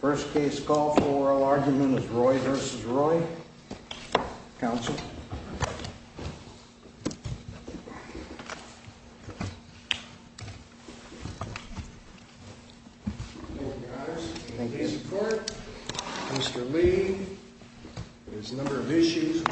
First case call for oral argument is Roy v. Roy. Counsel. Mr. Lee. There's a number of issues. The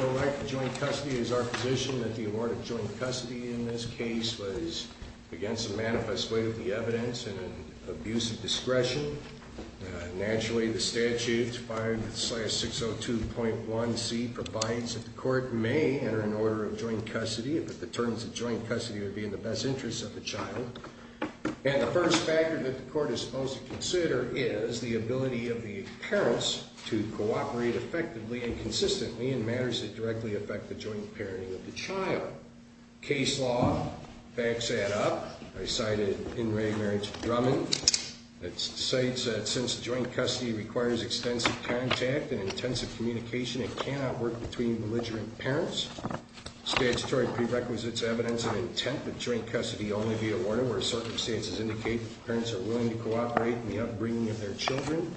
first factor that the court is supposed to consider is the ability of the parents to cooperate effectively and consistently in matters that directly affect the joint parenting of the child. Case law, facts add up. I cited In Re Marriage Drummond that cites that since joint custody requires extensive contact and intensive communication, it cannot work between belligerent parents. Statutory prerequisites evidence of intent that joint custody only be awarded where circumstances indicate that the parents are willing to cooperate in the upbringing of their children.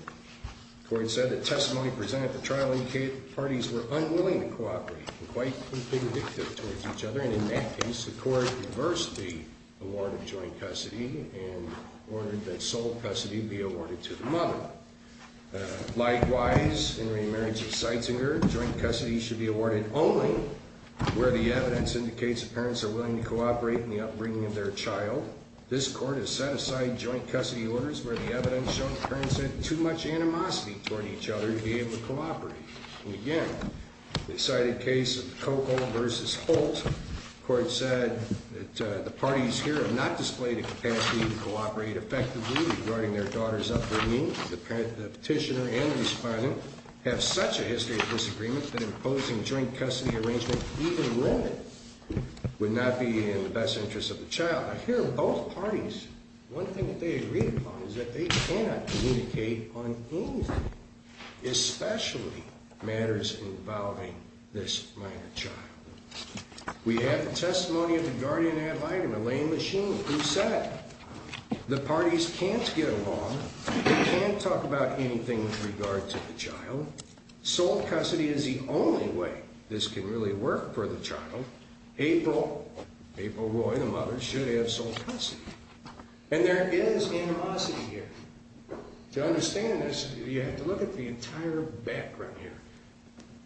The court said that testimony presented at the trial indicated that the parties were unwilling to cooperate and quite convicted towards each other. And in that case, the court reversed the award of joint custody and ordered that sole custody be awarded to the mother. Likewise, in Re Marriage of Seitzinger, joint custody should be awarded only where the evidence indicates the parents are willing to cooperate in the upbringing of their child. This court has set aside joint custody orders where the evidence showed the parents had too much animosity toward each other to be able to cooperate. And again, the cited case of Cocoa v. Holt, the court said that the parties here have not displayed a capacity to cooperate effectively regarding their daughter's upbringing. The petitioner and the respondent have such a history of disagreement that imposing joint custody arrangement even where it would not be in the best interest of the child. Here, both parties, one thing that they agreed upon is that they cannot communicate on anything, especially matters involving this minor child. We have the testimony of the guardian ad litem, Elaine Machine, who said the parties can't get along, can't talk about anything with regard to the child. Sole custody is the only way this can really work for the child. April, April Roy, the mother, should have sole custody. And there is animosity here. To understand this, you have to look at the entire background here.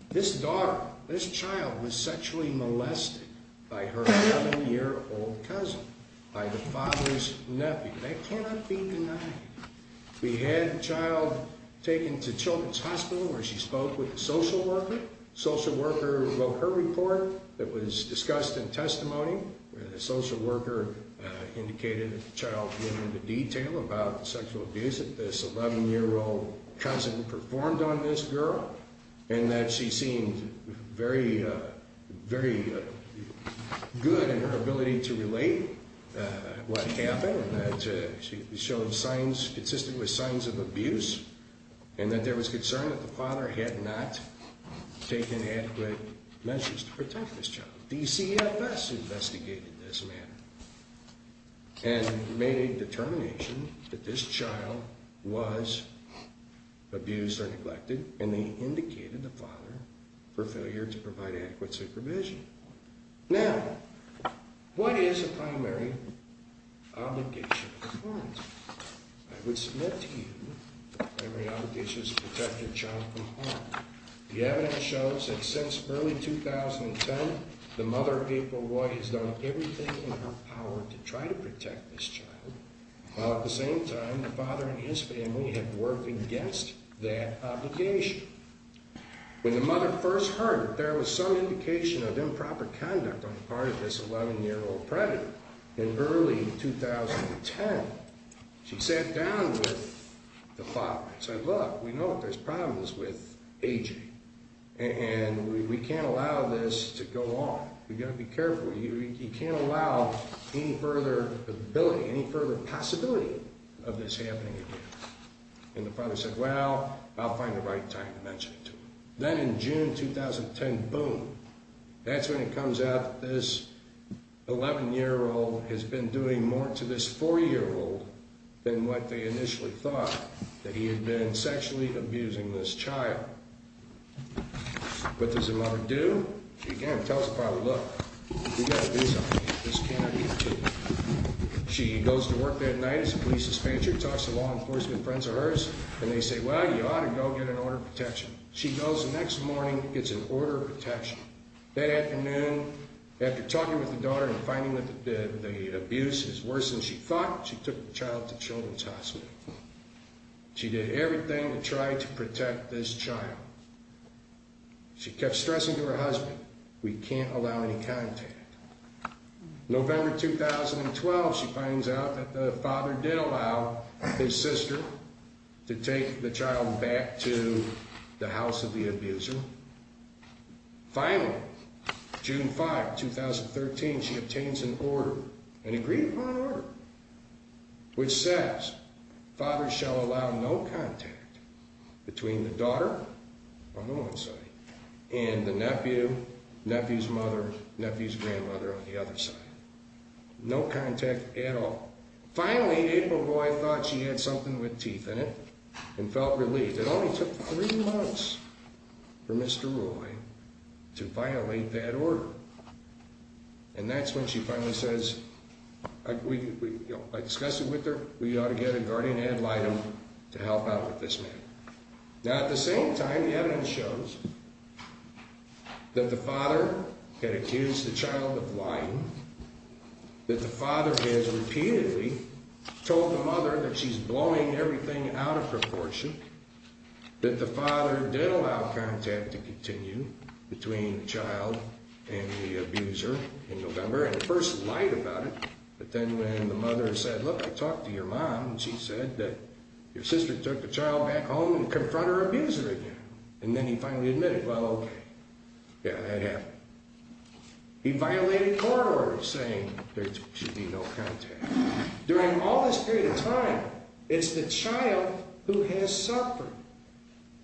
This daughter, this child, was sexually molested by her seven-year-old cousin, by the father's nephew. That cannot be denied. We had a child taken to Children's Hospital where she spoke with a social worker. Social worker wrote her report that was discussed in testimony. The social worker indicated that the child knew the detail about the sexual abuse that this 11-year-old cousin performed on this girl, and that she seemed very, very good in her ability to relate what happened, that she showed signs consistent with signs of abuse, and that there was concern that the father had not taken adequate measures to protect this child. DCFS investigated this matter and made a determination that this child was abused or neglected, and they indicated the father for failure to provide adequate supervision. Now, what is a primary obligation? I would submit to you that the primary obligation is to protect your child from harm. The evidence shows that since early 2010, the mother, April Roy, has done everything in her power to try to protect this child, while at the same time, the father and his family have worked against that obligation. When the mother first heard that there was some indication of improper conduct on the part of this 11-year-old predator in early 2010, she sat down with the father and said, Look, we know that there's problems with aging, and we can't allow this to go on. We've got to be careful. We can't allow any further possibility of this happening again. And the father said, Well, I'll find the right time to mention it to him. Then in June 2010, boom, that's when it comes out that this 11-year-old has been doing more to this 4-year-old than what they initially thought, that he had been sexually abusing this child. What does the mother do? She again tells the father, Look, we've got to do something. This cannot be continued. She goes to work that night as a police dispatcher, talks to law enforcement friends of hers, and they say, Well, you ought to go get an order of protection. She goes the next morning, gets an order of protection. That afternoon, after talking with the daughter and finding that the abuse is worse than she thought, she took the child to Children's Hospital. She did everything to try to protect this child. She kept stressing to her husband, We can't allow any contact. November 2012, she finds out that the father did allow his sister to take the child back to the house of the abuser. Finally, June 5, 2013, she obtains an order, an agreed-upon order, which says, Fathers shall allow no contact between the daughter on one side and the nephew, nephew's mother, nephew's grandmother on the other side. No contact at all. Finally, April Roy thought she had something with teeth in it and felt relieved. It only took three months for Mr. Roy to violate that order. And that's when she finally says, I discussed it with her. We ought to get a guardian ad litem to help out with this matter. Now, at the same time, the evidence shows that the father had accused the child of lying, that the father has repeatedly told the mother that she's blowing everything out of proportion, that the father did allow contact to continue between the child and the abuser in November, and at first lied about it, but then when the mother said, Look, I talked to your mom, and she said that your sister took the child back home to confront her abuser again. And then he finally admitted, Well, okay. Yeah, that happened. He violated court orders saying there should be no contact. During all this period of time, it's the child who has suffered.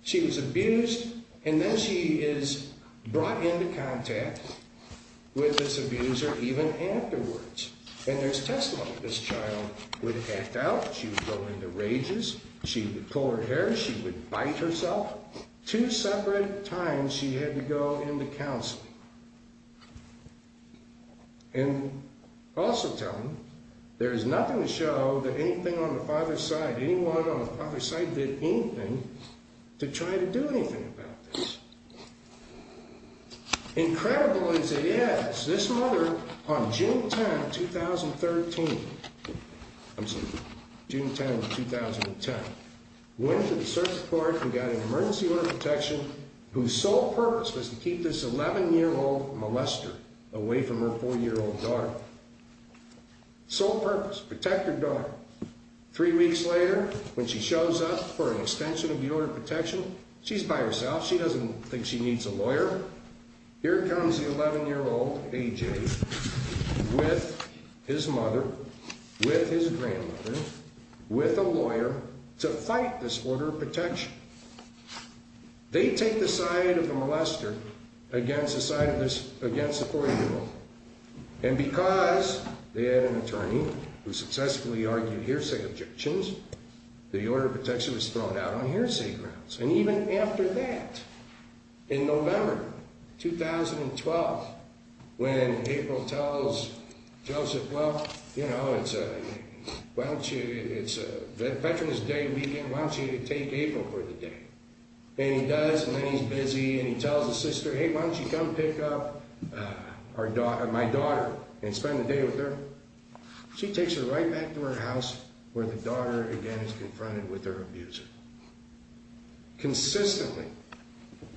She was abused, and then she is brought into contact with this abuser even afterwards. And there's testimony that this child would act out. She would go into rages. She would pull her hair. She would bite herself. Two separate times she had to go into counseling. And also tell him there is nothing to show that anything on the father's side, anyone on the father's side did anything to try to do anything about this. Incredible as it is, this mother on June 10, 2013, I'm sorry, June 10, 2010, went to the search court and got an emergency order of protection whose sole purpose was to keep this 11-year-old molester away from her 4-year-old daughter. Sole purpose, protect her daughter. Three weeks later, when she shows up for an extension of the order of protection, she's by herself. She doesn't think she needs a lawyer. Here comes the 11-year-old AJ with his mother, with his grandmother, with a lawyer to fight this order of protection. They take the side of the molester against the 4-year-old. And because they had an attorney who successfully argued hearsay objections, the order of protection was thrown out on hearsay grounds. And even after that, in November 2012, when April tells Joseph, well, you know, it's Veteran's Day weekend. Why don't you take April for the day? And he does, and then he's busy, and he tells his sister, hey, why don't you come pick up my daughter and spend the day with her? She takes her right back to her house where the daughter, again, is confronted with her abuser. Consistently,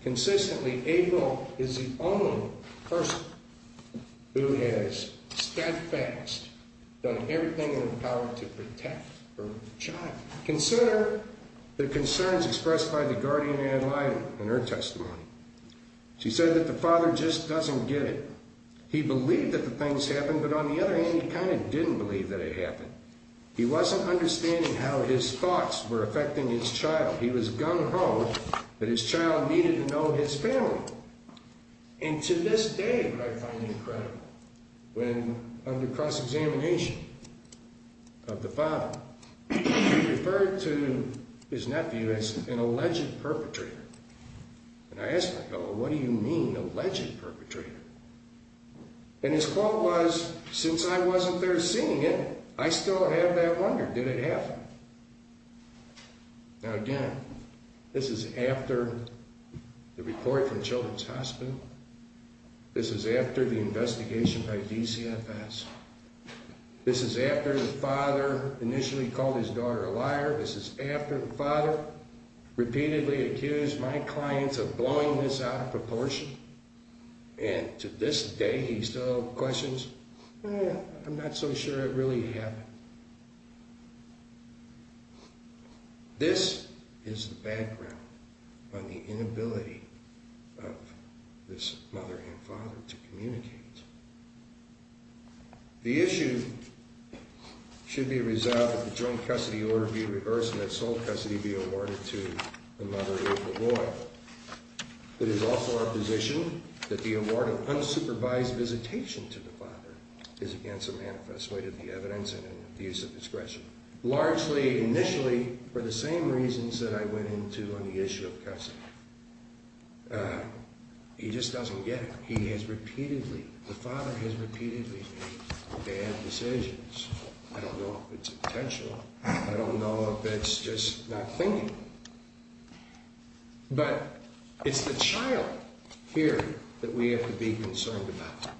consistently, April is the only person who has steadfast, done everything in her power to protect her child. Consider the concerns expressed by the guardian in her testimony. She said that the father just doesn't get it. He believed that the things happened, but on the other hand, he kind of didn't believe that it happened. He wasn't understanding how his thoughts were affecting his child. He was gung-ho that his child needed to know his family. And to this day, what I find incredible, when under cross-examination of the father, he referred to his nephew as an alleged perpetrator. And I asked my fellow, what do you mean, alleged perpetrator? And his quote was, since I wasn't there seeing it, I still have that wonder. Did it happen? Now, again, this is after the report from Children's Hospital. This is after the investigation by DCFS. This is after the father initially called his daughter a liar. This is after the father repeatedly accused my clients of blowing this out of proportion and to this day he still questions, well, I'm not so sure it really happened. This is the background on the inability of this mother and father to communicate. The issue should be resolved that the joint custody order be reversed and that sole custody be awarded to the mother of the boy. It is also our position that the award of unsupervised visitation to the father is against the manifest way of the evidence and an abuse of discretion. Largely, initially, for the same reasons that I went into on the issue of custody. He just doesn't get it. He has repeatedly, the father has repeatedly made bad decisions. I don't know if it's intentional. I don't know if it's just not thinking. But it's the child here that we have to be concerned about.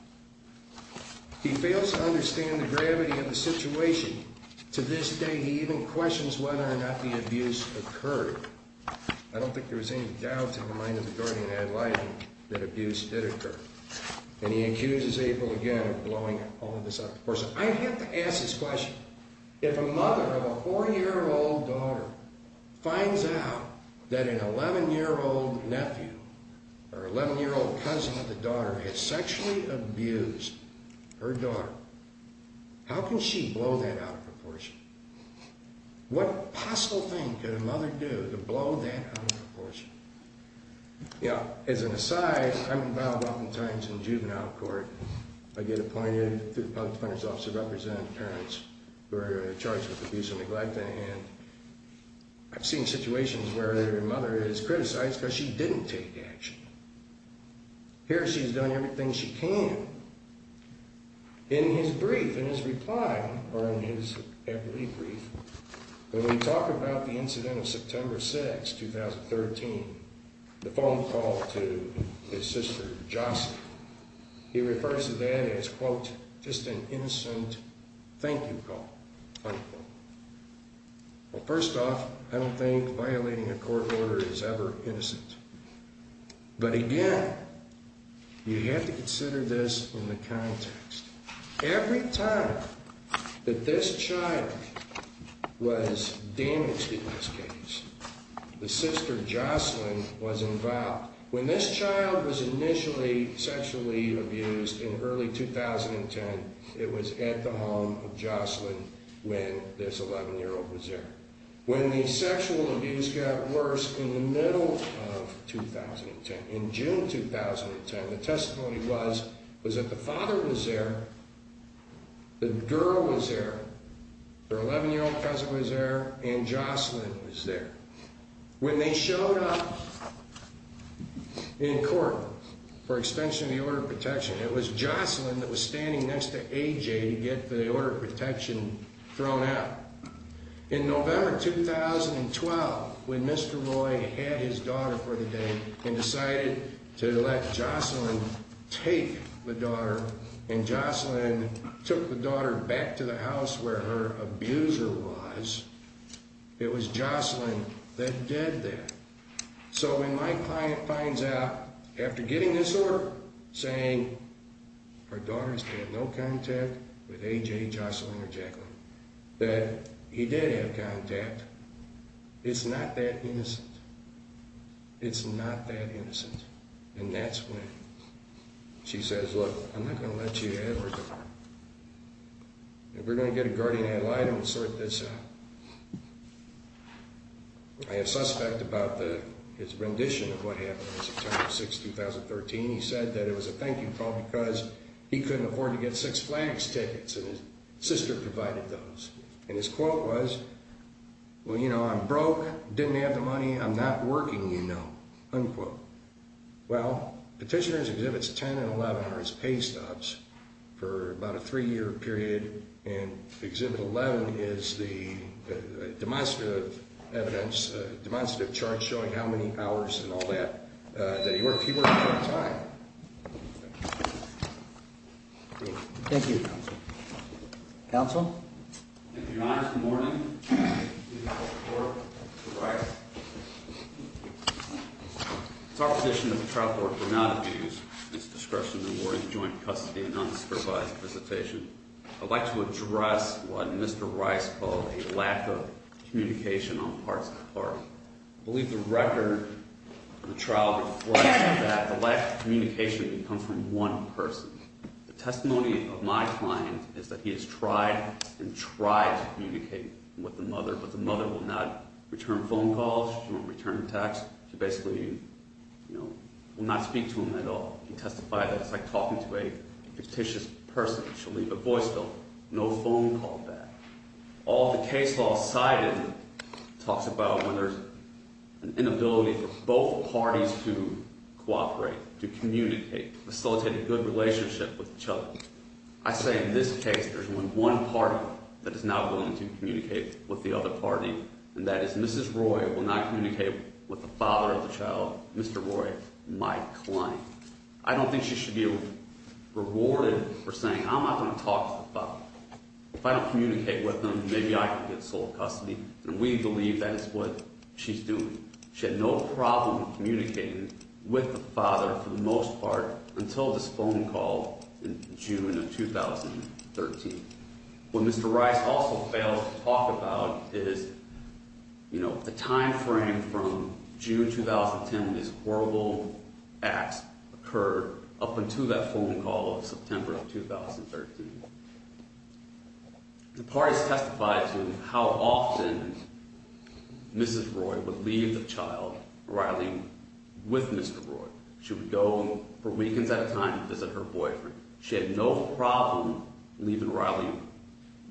He fails to understand the gravity of the situation. To this day, he even questions whether or not the abuse occurred. I don't think there was any doubt in the mind of the guardian ad litem that abuse did occur. And he accuses April again of blowing all of this out of proportion. I have to ask this question. If a mother of a 4-year-old daughter finds out that an 11-year-old nephew or 11-year-old cousin of the daughter has sexually abused her daughter, how can she blow that out of proportion? What possible thing could a mother do to blow that out of proportion? As an aside, I'm involved oftentimes in juvenile court. I get appointed through the Public Defender's Office to represent parents who are charged with abuse and neglect. And I've seen situations where a mother is criticized because she didn't take action. Here, she's done everything she can. In his brief, in his reply, or in his equity brief, when we talk about the incident of September 6, 2013, the phone call to his sister, Jocelyn, he refers to that as, quote, just an innocent thank-you call, unquote. Well, first off, I don't think violating a court order is ever innocent. But again, you have to consider this in the context. Every time that this child was damaged in this case, the sister, Jocelyn, was involved. When this child was initially sexually abused in early 2010, it was at the home of Jocelyn when this 11-year-old was there. When the sexual abuse got worse in the middle of 2010, in June 2010, the testimony was that the father was there, the girl was there, her 11-year-old cousin was there, and Jocelyn was there. When they showed up in court for extension of the order of protection, it was Jocelyn that was standing next to AJ to get the order of protection thrown out. In November 2012, when Mr. Roy had his daughter for the day and decided to let Jocelyn take the daughter, and Jocelyn took the daughter back to the house where her abuser was, it was Jocelyn that did that. So when my client finds out, after getting this order, saying her daughter has had no contact with AJ, Jocelyn, or Jacqueline, that he did have contact, it's not that innocent. It's not that innocent. And that's when she says, look, I'm not going to let you have her daughter. And we're going to get a guardian ad litem to sort this out. I have suspect about his rendition of what happened on September 6, 2013. He said that it was a thank you call because he couldn't afford to get six FLAGS tickets, and his sister provided those. And his quote was, well, you know, I'm broke, didn't have the money, I'm not working, you know, unquote. Well, Petitioners Exhibits 10 and 11 are his pay stops for about a three-year period, and Exhibit 11 is the demonstrative evidence, demonstrative chart showing how many hours and all that that he worked part-time. Thank you. Counsel? Your Honor, good morning. It's our position that the trial court will not abuse its discretion in awarding joint custody and unsupervised visitation. I'd like to address what Mr. Rice called a lack of communication on parts of the party. I believe the record of the trial reflects that the lack of communication can come from one person. The testimony of my client is that he has tried and tried to communicate with the mother, but the mother will not return phone calls. She won't return texts. She basically, you know, will not speak to him at all. He testified that it's like talking to a fictitious person. She'll leave a voice note, no phone call back. All the case law cited talks about when there's an inability for both parties to cooperate, to communicate, facilitate a good relationship with each other. I say in this case there's only one party that is not willing to communicate with the other party, and that is Mrs. Roy will not communicate with the father of the child, Mr. Roy, my client. I don't think she should be rewarded for saying I'm not going to talk to the father. If I don't communicate with him, maybe I can get sole custody, and we believe that is what she's doing. She had no problem communicating with the father for the most part until this phone call in June of 2013. What Mr. Rice also fails to talk about is, you know, the time frame from June 2010, these horrible acts occurred up until that phone call of September of 2013. The parties testified to how often Mrs. Roy would leave the child, Riley, with Mr. Roy. She would go for weekends at a time to visit her boyfriend. She had no problem leaving Riley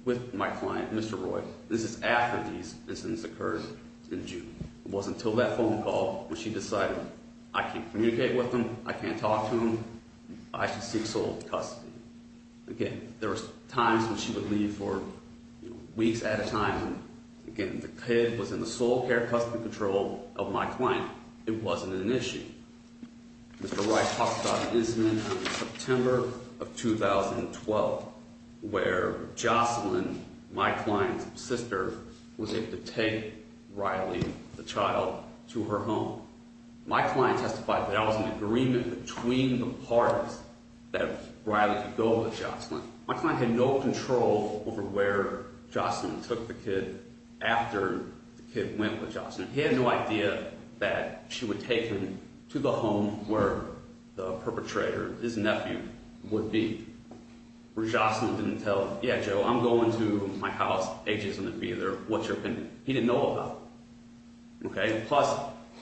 with my client, Mr. Roy. This is after these incidents occurred in June. It wasn't until that phone call when she decided I can't communicate with him, I can't talk to him, I should seek sole custody. Again, there were times when she would leave for weeks at a time. Again, the kid was in the sole care custody control of my client. It wasn't an issue. Mr. Rice talks about an incident in September of 2012 where Jocelyn, my client's sister, was able to take Riley, the child, to her home. My client testified that there was an agreement between the parties that Riley could go with Jocelyn. My client had no control over where Jocelyn took the kid after the kid went with Jocelyn. He had no idea that she would take him to the home where the perpetrator, his nephew, would be. Where Jocelyn didn't tell him, yeah, Joe, I'm going to my house, AJ's going to be there, what's your opinion? He didn't know about it. Plus,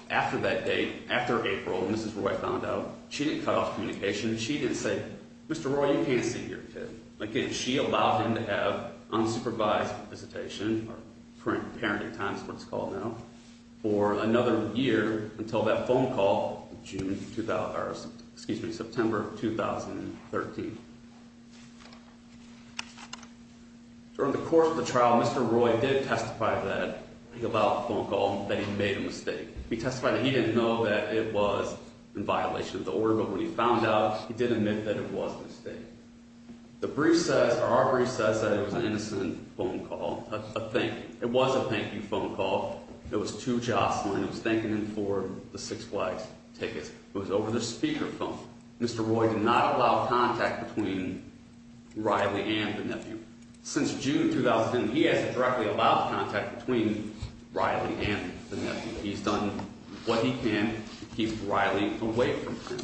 after that date, after April, Mrs. Roy found out, she didn't cut off communication. She didn't say, Mr. Roy, you can't see your kid. Again, she allowed him to have unsupervised visitation, or parenting time is what it's called now, for another year until that phone call in September of 2013. During the course of the trial, Mr. Roy did testify that he allowed the phone call, that he made a mistake. He testified that he didn't know that it was in violation of the order, but when he found out, he did admit that it was a mistake. The brief says, or our brief says that it was an innocent phone call, a thank you. It was a thank you phone call. It was to Jocelyn. It was thanking him for the Six Flags tickets. It was over the speakerphone. Mr. Roy did not allow contact between Riley and the nephew. Since June 2010, he hasn't directly allowed contact between Riley and the nephew. He's done what he can to keep Riley away from him.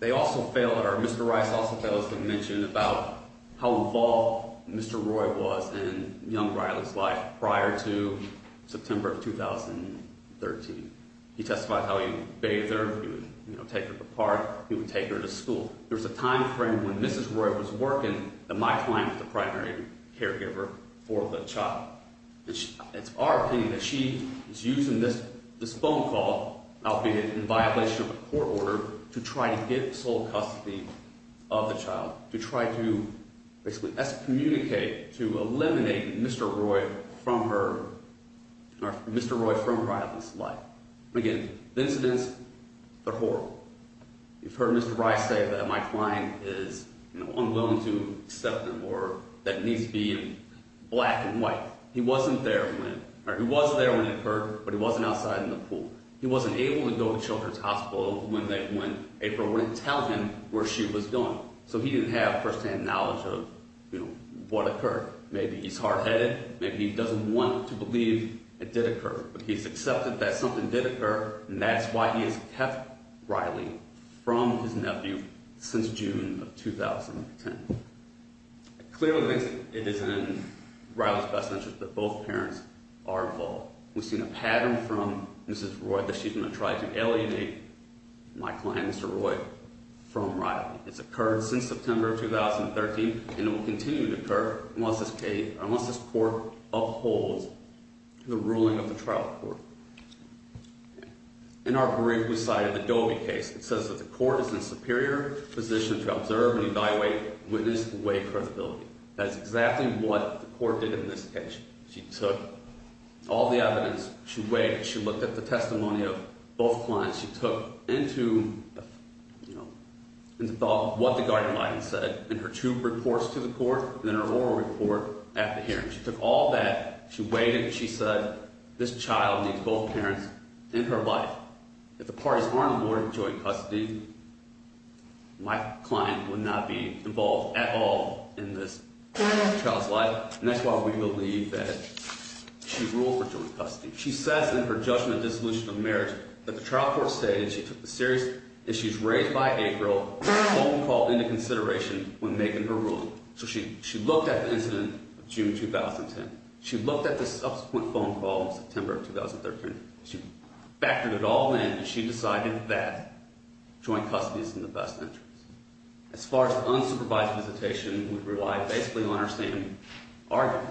They also fail, or Mr. Rice also fails to mention about how involved Mr. Roy was in young Riley's life prior to September of 2013. He testified how he would bathe her, he would take her to the park, he would take her to school. There's a time frame when Mrs. Roy was working that my client was the primary caregiver for the child. It's our opinion that she was using this phone call, albeit in violation of a court order, to try to get sole custody of the child. To try to basically excommunicate, to eliminate Mr. Roy from her, or Mr. Roy from Riley's life. Again, the incidents, they're horrible. You've heard Mr. Rice say that my client is unwilling to accept them, or that he needs to be black and white. He wasn't there when, or he was there when it occurred, but he wasn't outside in the pool. He wasn't able to go to Children's Hospital when April wouldn't tell him where she was going. So he didn't have firsthand knowledge of what occurred. Maybe he's hard-headed, maybe he doesn't want to believe it did occur. But he's accepted that something did occur, and that's why he has kept Riley from his nephew since June of 2010. Clearly, it is in Riley's best interest that both parents are involved. We've seen a pattern from Mrs. Roy that she's going to try to alienate my client, Mr. Roy, from Riley. It's occurred since September of 2013, and it will continue to occur unless this case, unless this court upholds the ruling of the trial court. In our brief, we cited the Doby case. It says that the court is in a superior position to observe and evaluate, witness, and weigh credibility. That's exactly what the court did in this case. She took all the evidence. She weighed it. She looked at the testimony of both clients. She took into, you know, into thought what the guardian lied and said in her two reports to the court and in her oral report at the hearing. She took all that. She weighed it. She said this child needs both parents in her life. If the parties aren't awarded joint custody, my client would not be involved at all in this child's life. And that's why we believe that she ruled for joint custody. She says in her judgment dissolution of marriage that the trial court stated she took the serious issues raised by April, the phone call, into consideration when making her ruling. So she looked at the incident of June 2010. She looked at the subsequent phone call in September of 2013. She factored it all in, and she decided that joint custody is in the best interest. As far as unsupervised visitation, we rely basically on our same argument.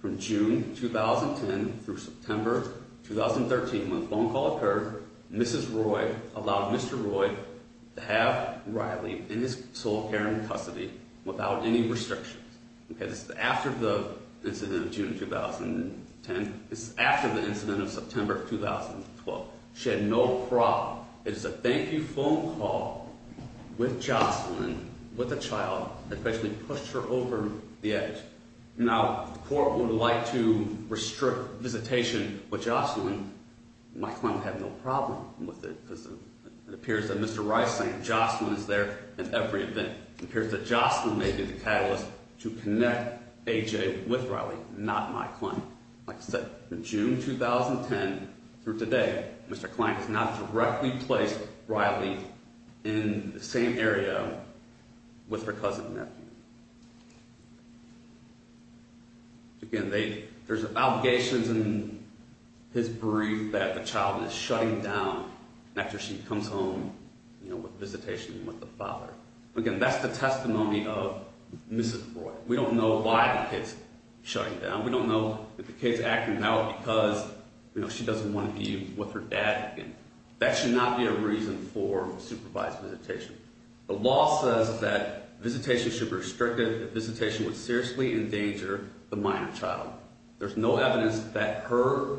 From June 2010 through September 2013, when the phone call occurred, Mrs. Roy allowed Mr. Roy to have Riley in his sole care and custody without any restrictions. Okay, this is after the incident of June 2010. This is after the incident of September 2012. She had no problem. It is a thank-you phone call with Jocelyn, with the child, that basically pushed her over the edge. Now, the court would like to restrict visitation with Jocelyn. My client had no problem with it because it appears that Mr. Rice is saying Jocelyn is there at every event. It appears that Jocelyn may be the catalyst to connect AJ with Riley, not my client. Like I said, from June 2010 through today, Mr. Klein has not directly placed Riley in the same area with her cousin and nephew. Again, there's obligations in his brief that the child is shutting down after she comes home with visitation with the father. Again, that's the testimony of Mrs. Roy. We don't know why the kid's shutting down. We don't know if the kid's acting out because she doesn't want to be with her dad. That should not be a reason for supervised visitation. The law says that visitation should be restricted if visitation would seriously endanger the minor child. There's no evidence that her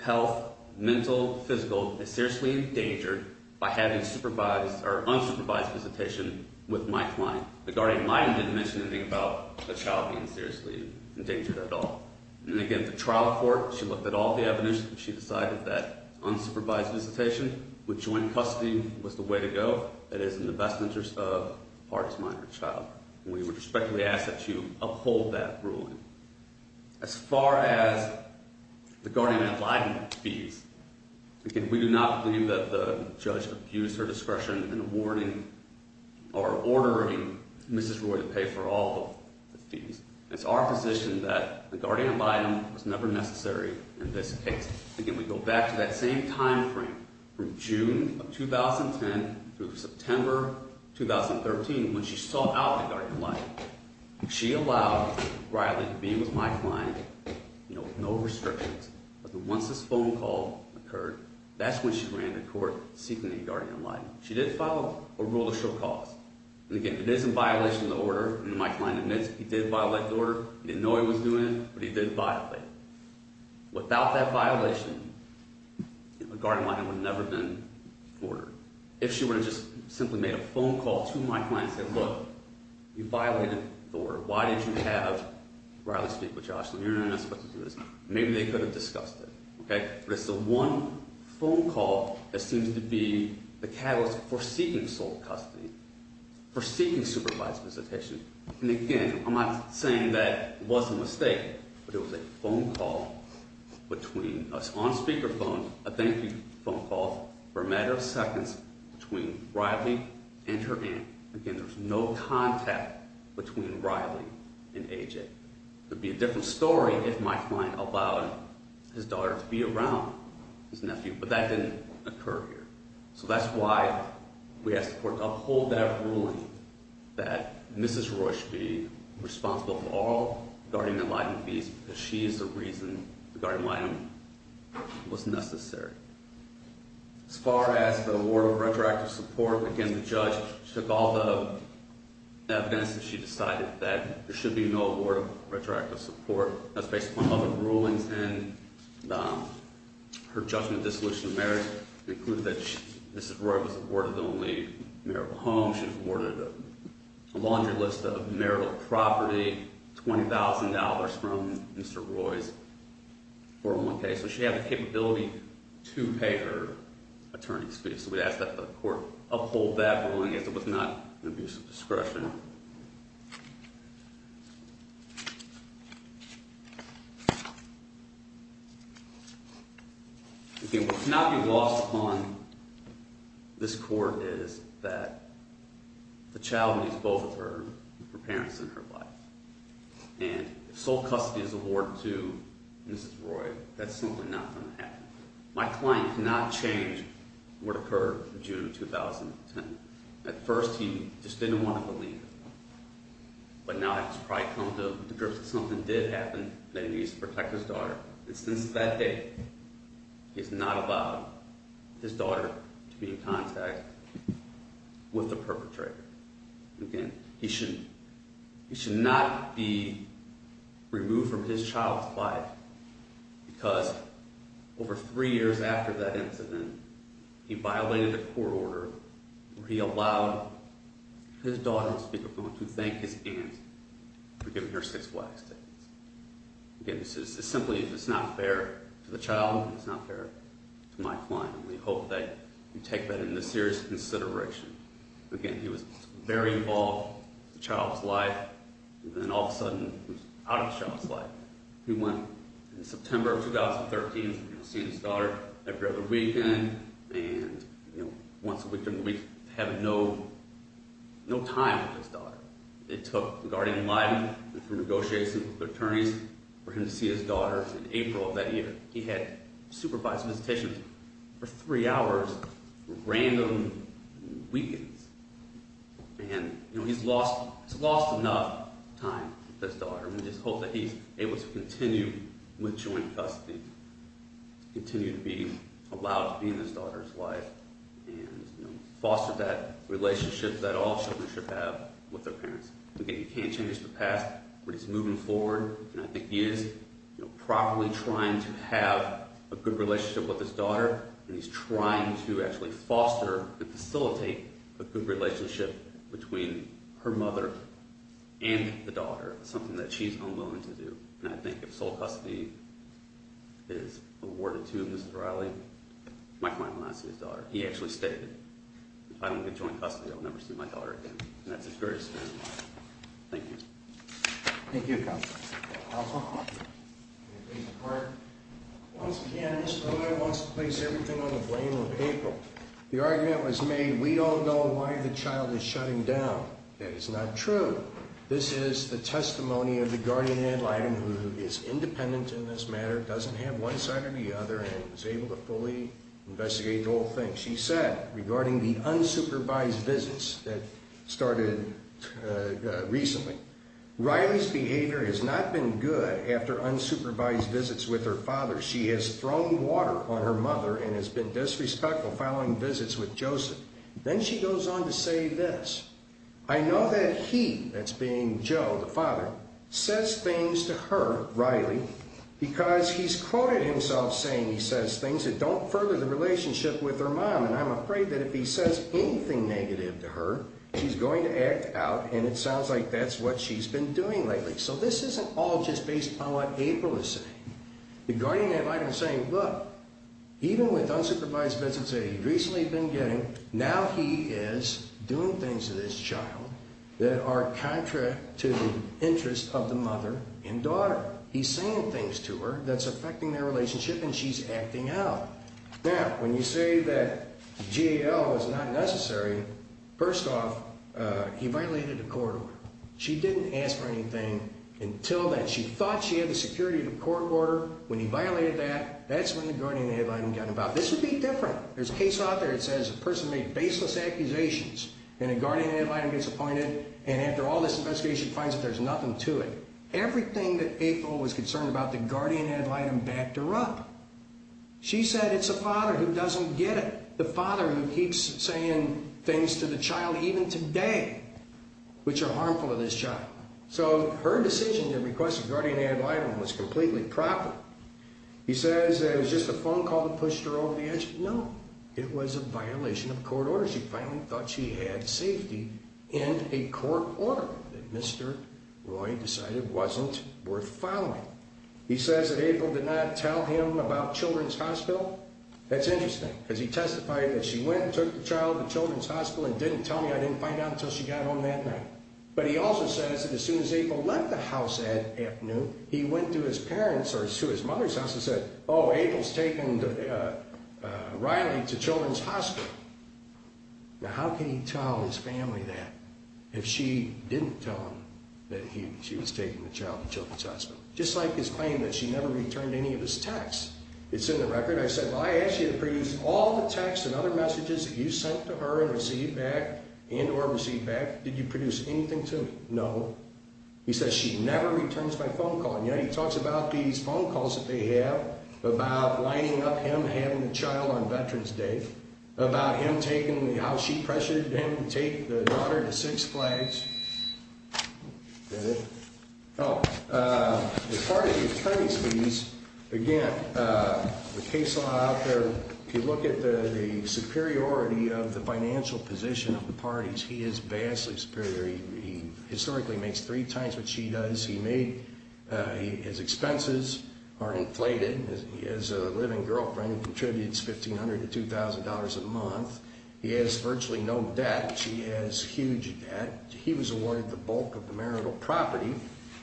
health, mental, physical, is seriously endangered by having unsupervised visitation with my client. The guardian didn't mention anything about the child being seriously endangered at all. And again, the trial court, she looked at all the evidence, and she decided that unsupervised visitation with joint custody was the way to go. It is in the best interest of the partner's minor child. We would respectfully ask that you uphold that ruling. As far as the guardian-in-abiding fees, again, we do not believe that the judge abused her discretion in awarding or ordering Mrs. Roy to pay for all the fees. It's our position that the guardian-in-abiding was never necessary in this case. Again, we go back to that same timeframe from June of 2010 through September 2013 when she sought out a guardian-in-abiding. She allowed Riley to be with my client with no restrictions, but then once this phone call occurred, that's when she ran to court seeking a guardian-in-abiding. She did follow a rule to show cause. And again, it is in violation of the order, and my client admits he did violate the order. He didn't know he was doing it, but he did violate it. Without that violation, a guardian-in-abiding would have never been ordered. If she would have just simply made a phone call to my client and said, look, you violated the order. Why didn't you have Riley speak with Joshua? You're not supposed to do this. Maybe they could have discussed it. But it's the one phone call that seems to be the catalyst for seeking sole custody, for seeking supervised visitation. And again, I'm not saying that it was a mistake, but it was a phone call between us on speakerphone, a thank you phone call for a matter of seconds between Riley and her aunt. Again, there was no contact between Riley and AJ. It would be a different story if my client allowed his daughter to be around his nephew, but that didn't occur here. So that's why we asked the court to uphold that ruling that Mrs. Roy should be responsible for all guardian-in-abiding fees, because she is the reason the guardian-in-abiding was necessary. As far as the award of retroactive support, again, the judge took all the evidence that she decided that there should be no award of retroactive support. That's based upon other rulings, and her judgment of dissolution of marriage included that Mrs. Roy was awarded the only marital home. She was awarded a laundry list of marital property, $20,000 from Mr. Roy's 401k. So she had the capability to pay her attorney's fees. So we asked that the court uphold that ruling as it was not an abuse of discretion. Again, what cannot be lost upon this court is that the child needs both of her and her parents in her life. And if sole custody is awarded to Mrs. Roy, that's simply not going to happen. My client cannot change what occurred in June 2010. At first, he just didn't want to believe it. But now he's probably come to the grips that something did happen, that he needs to protect his daughter. And since that day, he has not allowed his daughter to be in contact with the perpetrator. Again, he should not be removed from his child's life because over three years after that incident, he violated a court order where he allowed his daughter to speak up and to thank his aunt for giving her six wax tickets. Again, this is simply, if it's not fair to the child, it's not fair to my client. And we hope that you take that into serious consideration. Again, he was very involved with the child's life, and then all of a sudden, he was out of the child's life. He went in September of 2013 to see his daughter every other weekend. And once a week during the week, he had no time with his daughter. It took the guardian in Lydon and through negotiations with the attorneys for him to see his daughter in April of that year. He had supervised visitation for three hours, random weekends. And he's lost enough time with his daughter. And we just hope that he's able to continue with joint custody, continue to be allowed to be in his daughter's life, and foster that relationship that all children should have with their parents. Again, he can't change the past, but he's moving forward. And I think he is properly trying to have a good relationship with his daughter, and he's trying to actually foster and facilitate a good relationship between her mother and the daughter, something that she's unwilling to do. And I think if sole custody is awarded to Mr. Riley, my client will not see his daughter. He actually stated, if I don't get joint custody, I'll never see my daughter again. And that's his greatest commitment. Thank you. Thank you, Counsel. Counsel? Once again, Mr. Riley wants to place everything on the blame of April. The argument was made, we don't know why the child is shutting down. That is not true. This is the testimony of the guardian in Lydon, who is independent in this matter, doesn't have one side or the other, and is able to fully investigate the whole thing. She said, regarding the unsupervised visits that started recently, Riley's behavior has not been good after unsupervised visits with her father. She has thrown water on her mother and has been disrespectful following visits with Joseph. Then she goes on to say this, I know that he, that's being Joe, the father, says things to her, Riley, because he's quoted himself saying he says things that don't further the relationship with her mom, and I'm afraid that if he says anything negative to her, she's going to act out, and it sounds like that's what she's been doing lately. So this isn't all just based on what April is saying. The guardian in Lydon is saying, look, even with unsupervised visits that he's recently been getting, now he is doing things to this child that are contrary to the interests of the mother and daughter. He's saying things to her that's affecting their relationship, and she's acting out. Now, when you say that GAL is not necessary, first off, he violated the court order. She didn't ask for anything until then. She thought she had the security of the court order. When he violated that, that's when the guardian in Lydon got involved. This would be different. There's a case out there that says a person made baseless accusations, and a guardian in Lydon gets appointed, and after all this investigation finds that there's nothing to it. Everything that April was concerned about, the guardian in Lydon backed her up. She said it's the father who doesn't get it, the father who keeps saying things to the child, even today, which are harmful to this child. So her decision to request a guardian in Lydon was completely proper. He says it was just a phone call that pushed her over the edge. No, it was a violation of court order. She finally thought she had safety in a court order that Mr. Roy decided wasn't worth following. He says that April did not tell him about Children's Hospital. That's interesting because he testified that she went and took the child to Children's Hospital and didn't tell me, I didn't find out until she got home that night. But he also says that as soon as April left the house that afternoon, he went to his parents or to his mother's house and said, oh, April's taken Riley to Children's Hospital. Now, how can he tell his family that if she didn't tell him that she was taking the child to Children's Hospital? Just like his claim that she never returned any of his texts. It's in the record. I said, well, I asked you to produce all the texts and other messages that you sent to her and received back, and or received back. Did you produce anything to me? No. He says she never returns my phone call. And yet he talks about these phone calls that they have about lining up him having a child on Veterans Day, about him taking the, how she pressured him to take the daughter to Six Flags. Oh, as part of the attorney's fees, again, the case law out there, if you look at the superiority of the financial position of the parties, he is vastly superior. He historically makes three times what she does. He made his expenses are inflated. He has a living girlfriend who contributes $1,500 to $2,000 a month. He has virtually no debt. She has huge debt. He was awarded the bulk of the marital property.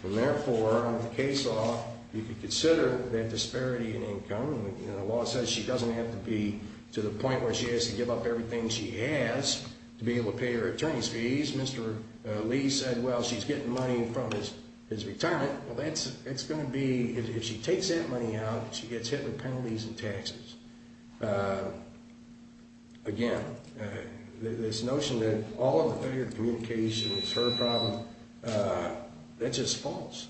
And therefore, under the case law, you could consider that disparity in income. The law says she doesn't have to be to the point where she has to give up everything she has to be able to pay her attorney's fees. Mr. Lee said, well, she's getting money from his retirement. Well, that's going to be, if she takes that money out, she gets hit with penalties and taxes. Again, this notion that all of the communication is her problem, that's just false.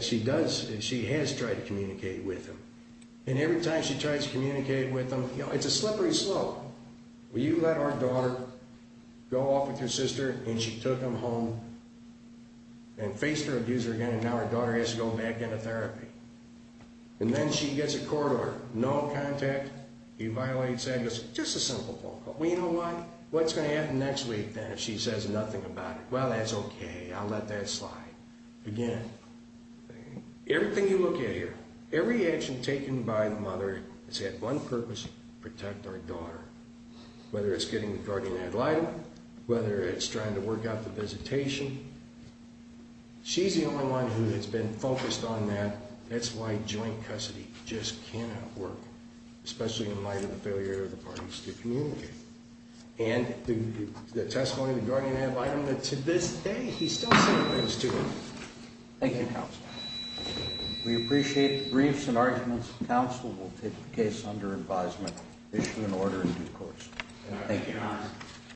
She does, she has tried to communicate with him. And every time she tries to communicate with him, you know, it's a slippery slope. Well, you let our daughter go off with your sister, and she took him home and faced her abuser again, and now our daughter has to go back into therapy. And then she gets a court order. No contact. He violates that. It's just a simple phone call. Well, you know what? What's going to happen next week, then, if she says nothing about it? Well, that's okay. I'll let that slide. Again, everything you look at here, every action taken by the mother has had one purpose, protect our daughter, whether it's getting the guardian ad litem, whether it's trying to work out the visitation. She's the only one who has been focused on that. That's why joint custody just cannot work, especially in light of the failure of the parties to communicate. And the testimony of the guardian ad litem, to this day, he's still saying things to her. Thank you, Counsel. We appreciate the briefs and arguments. Counsel will take the case under advisement, issue an order in due course. Thank you. Your Honor.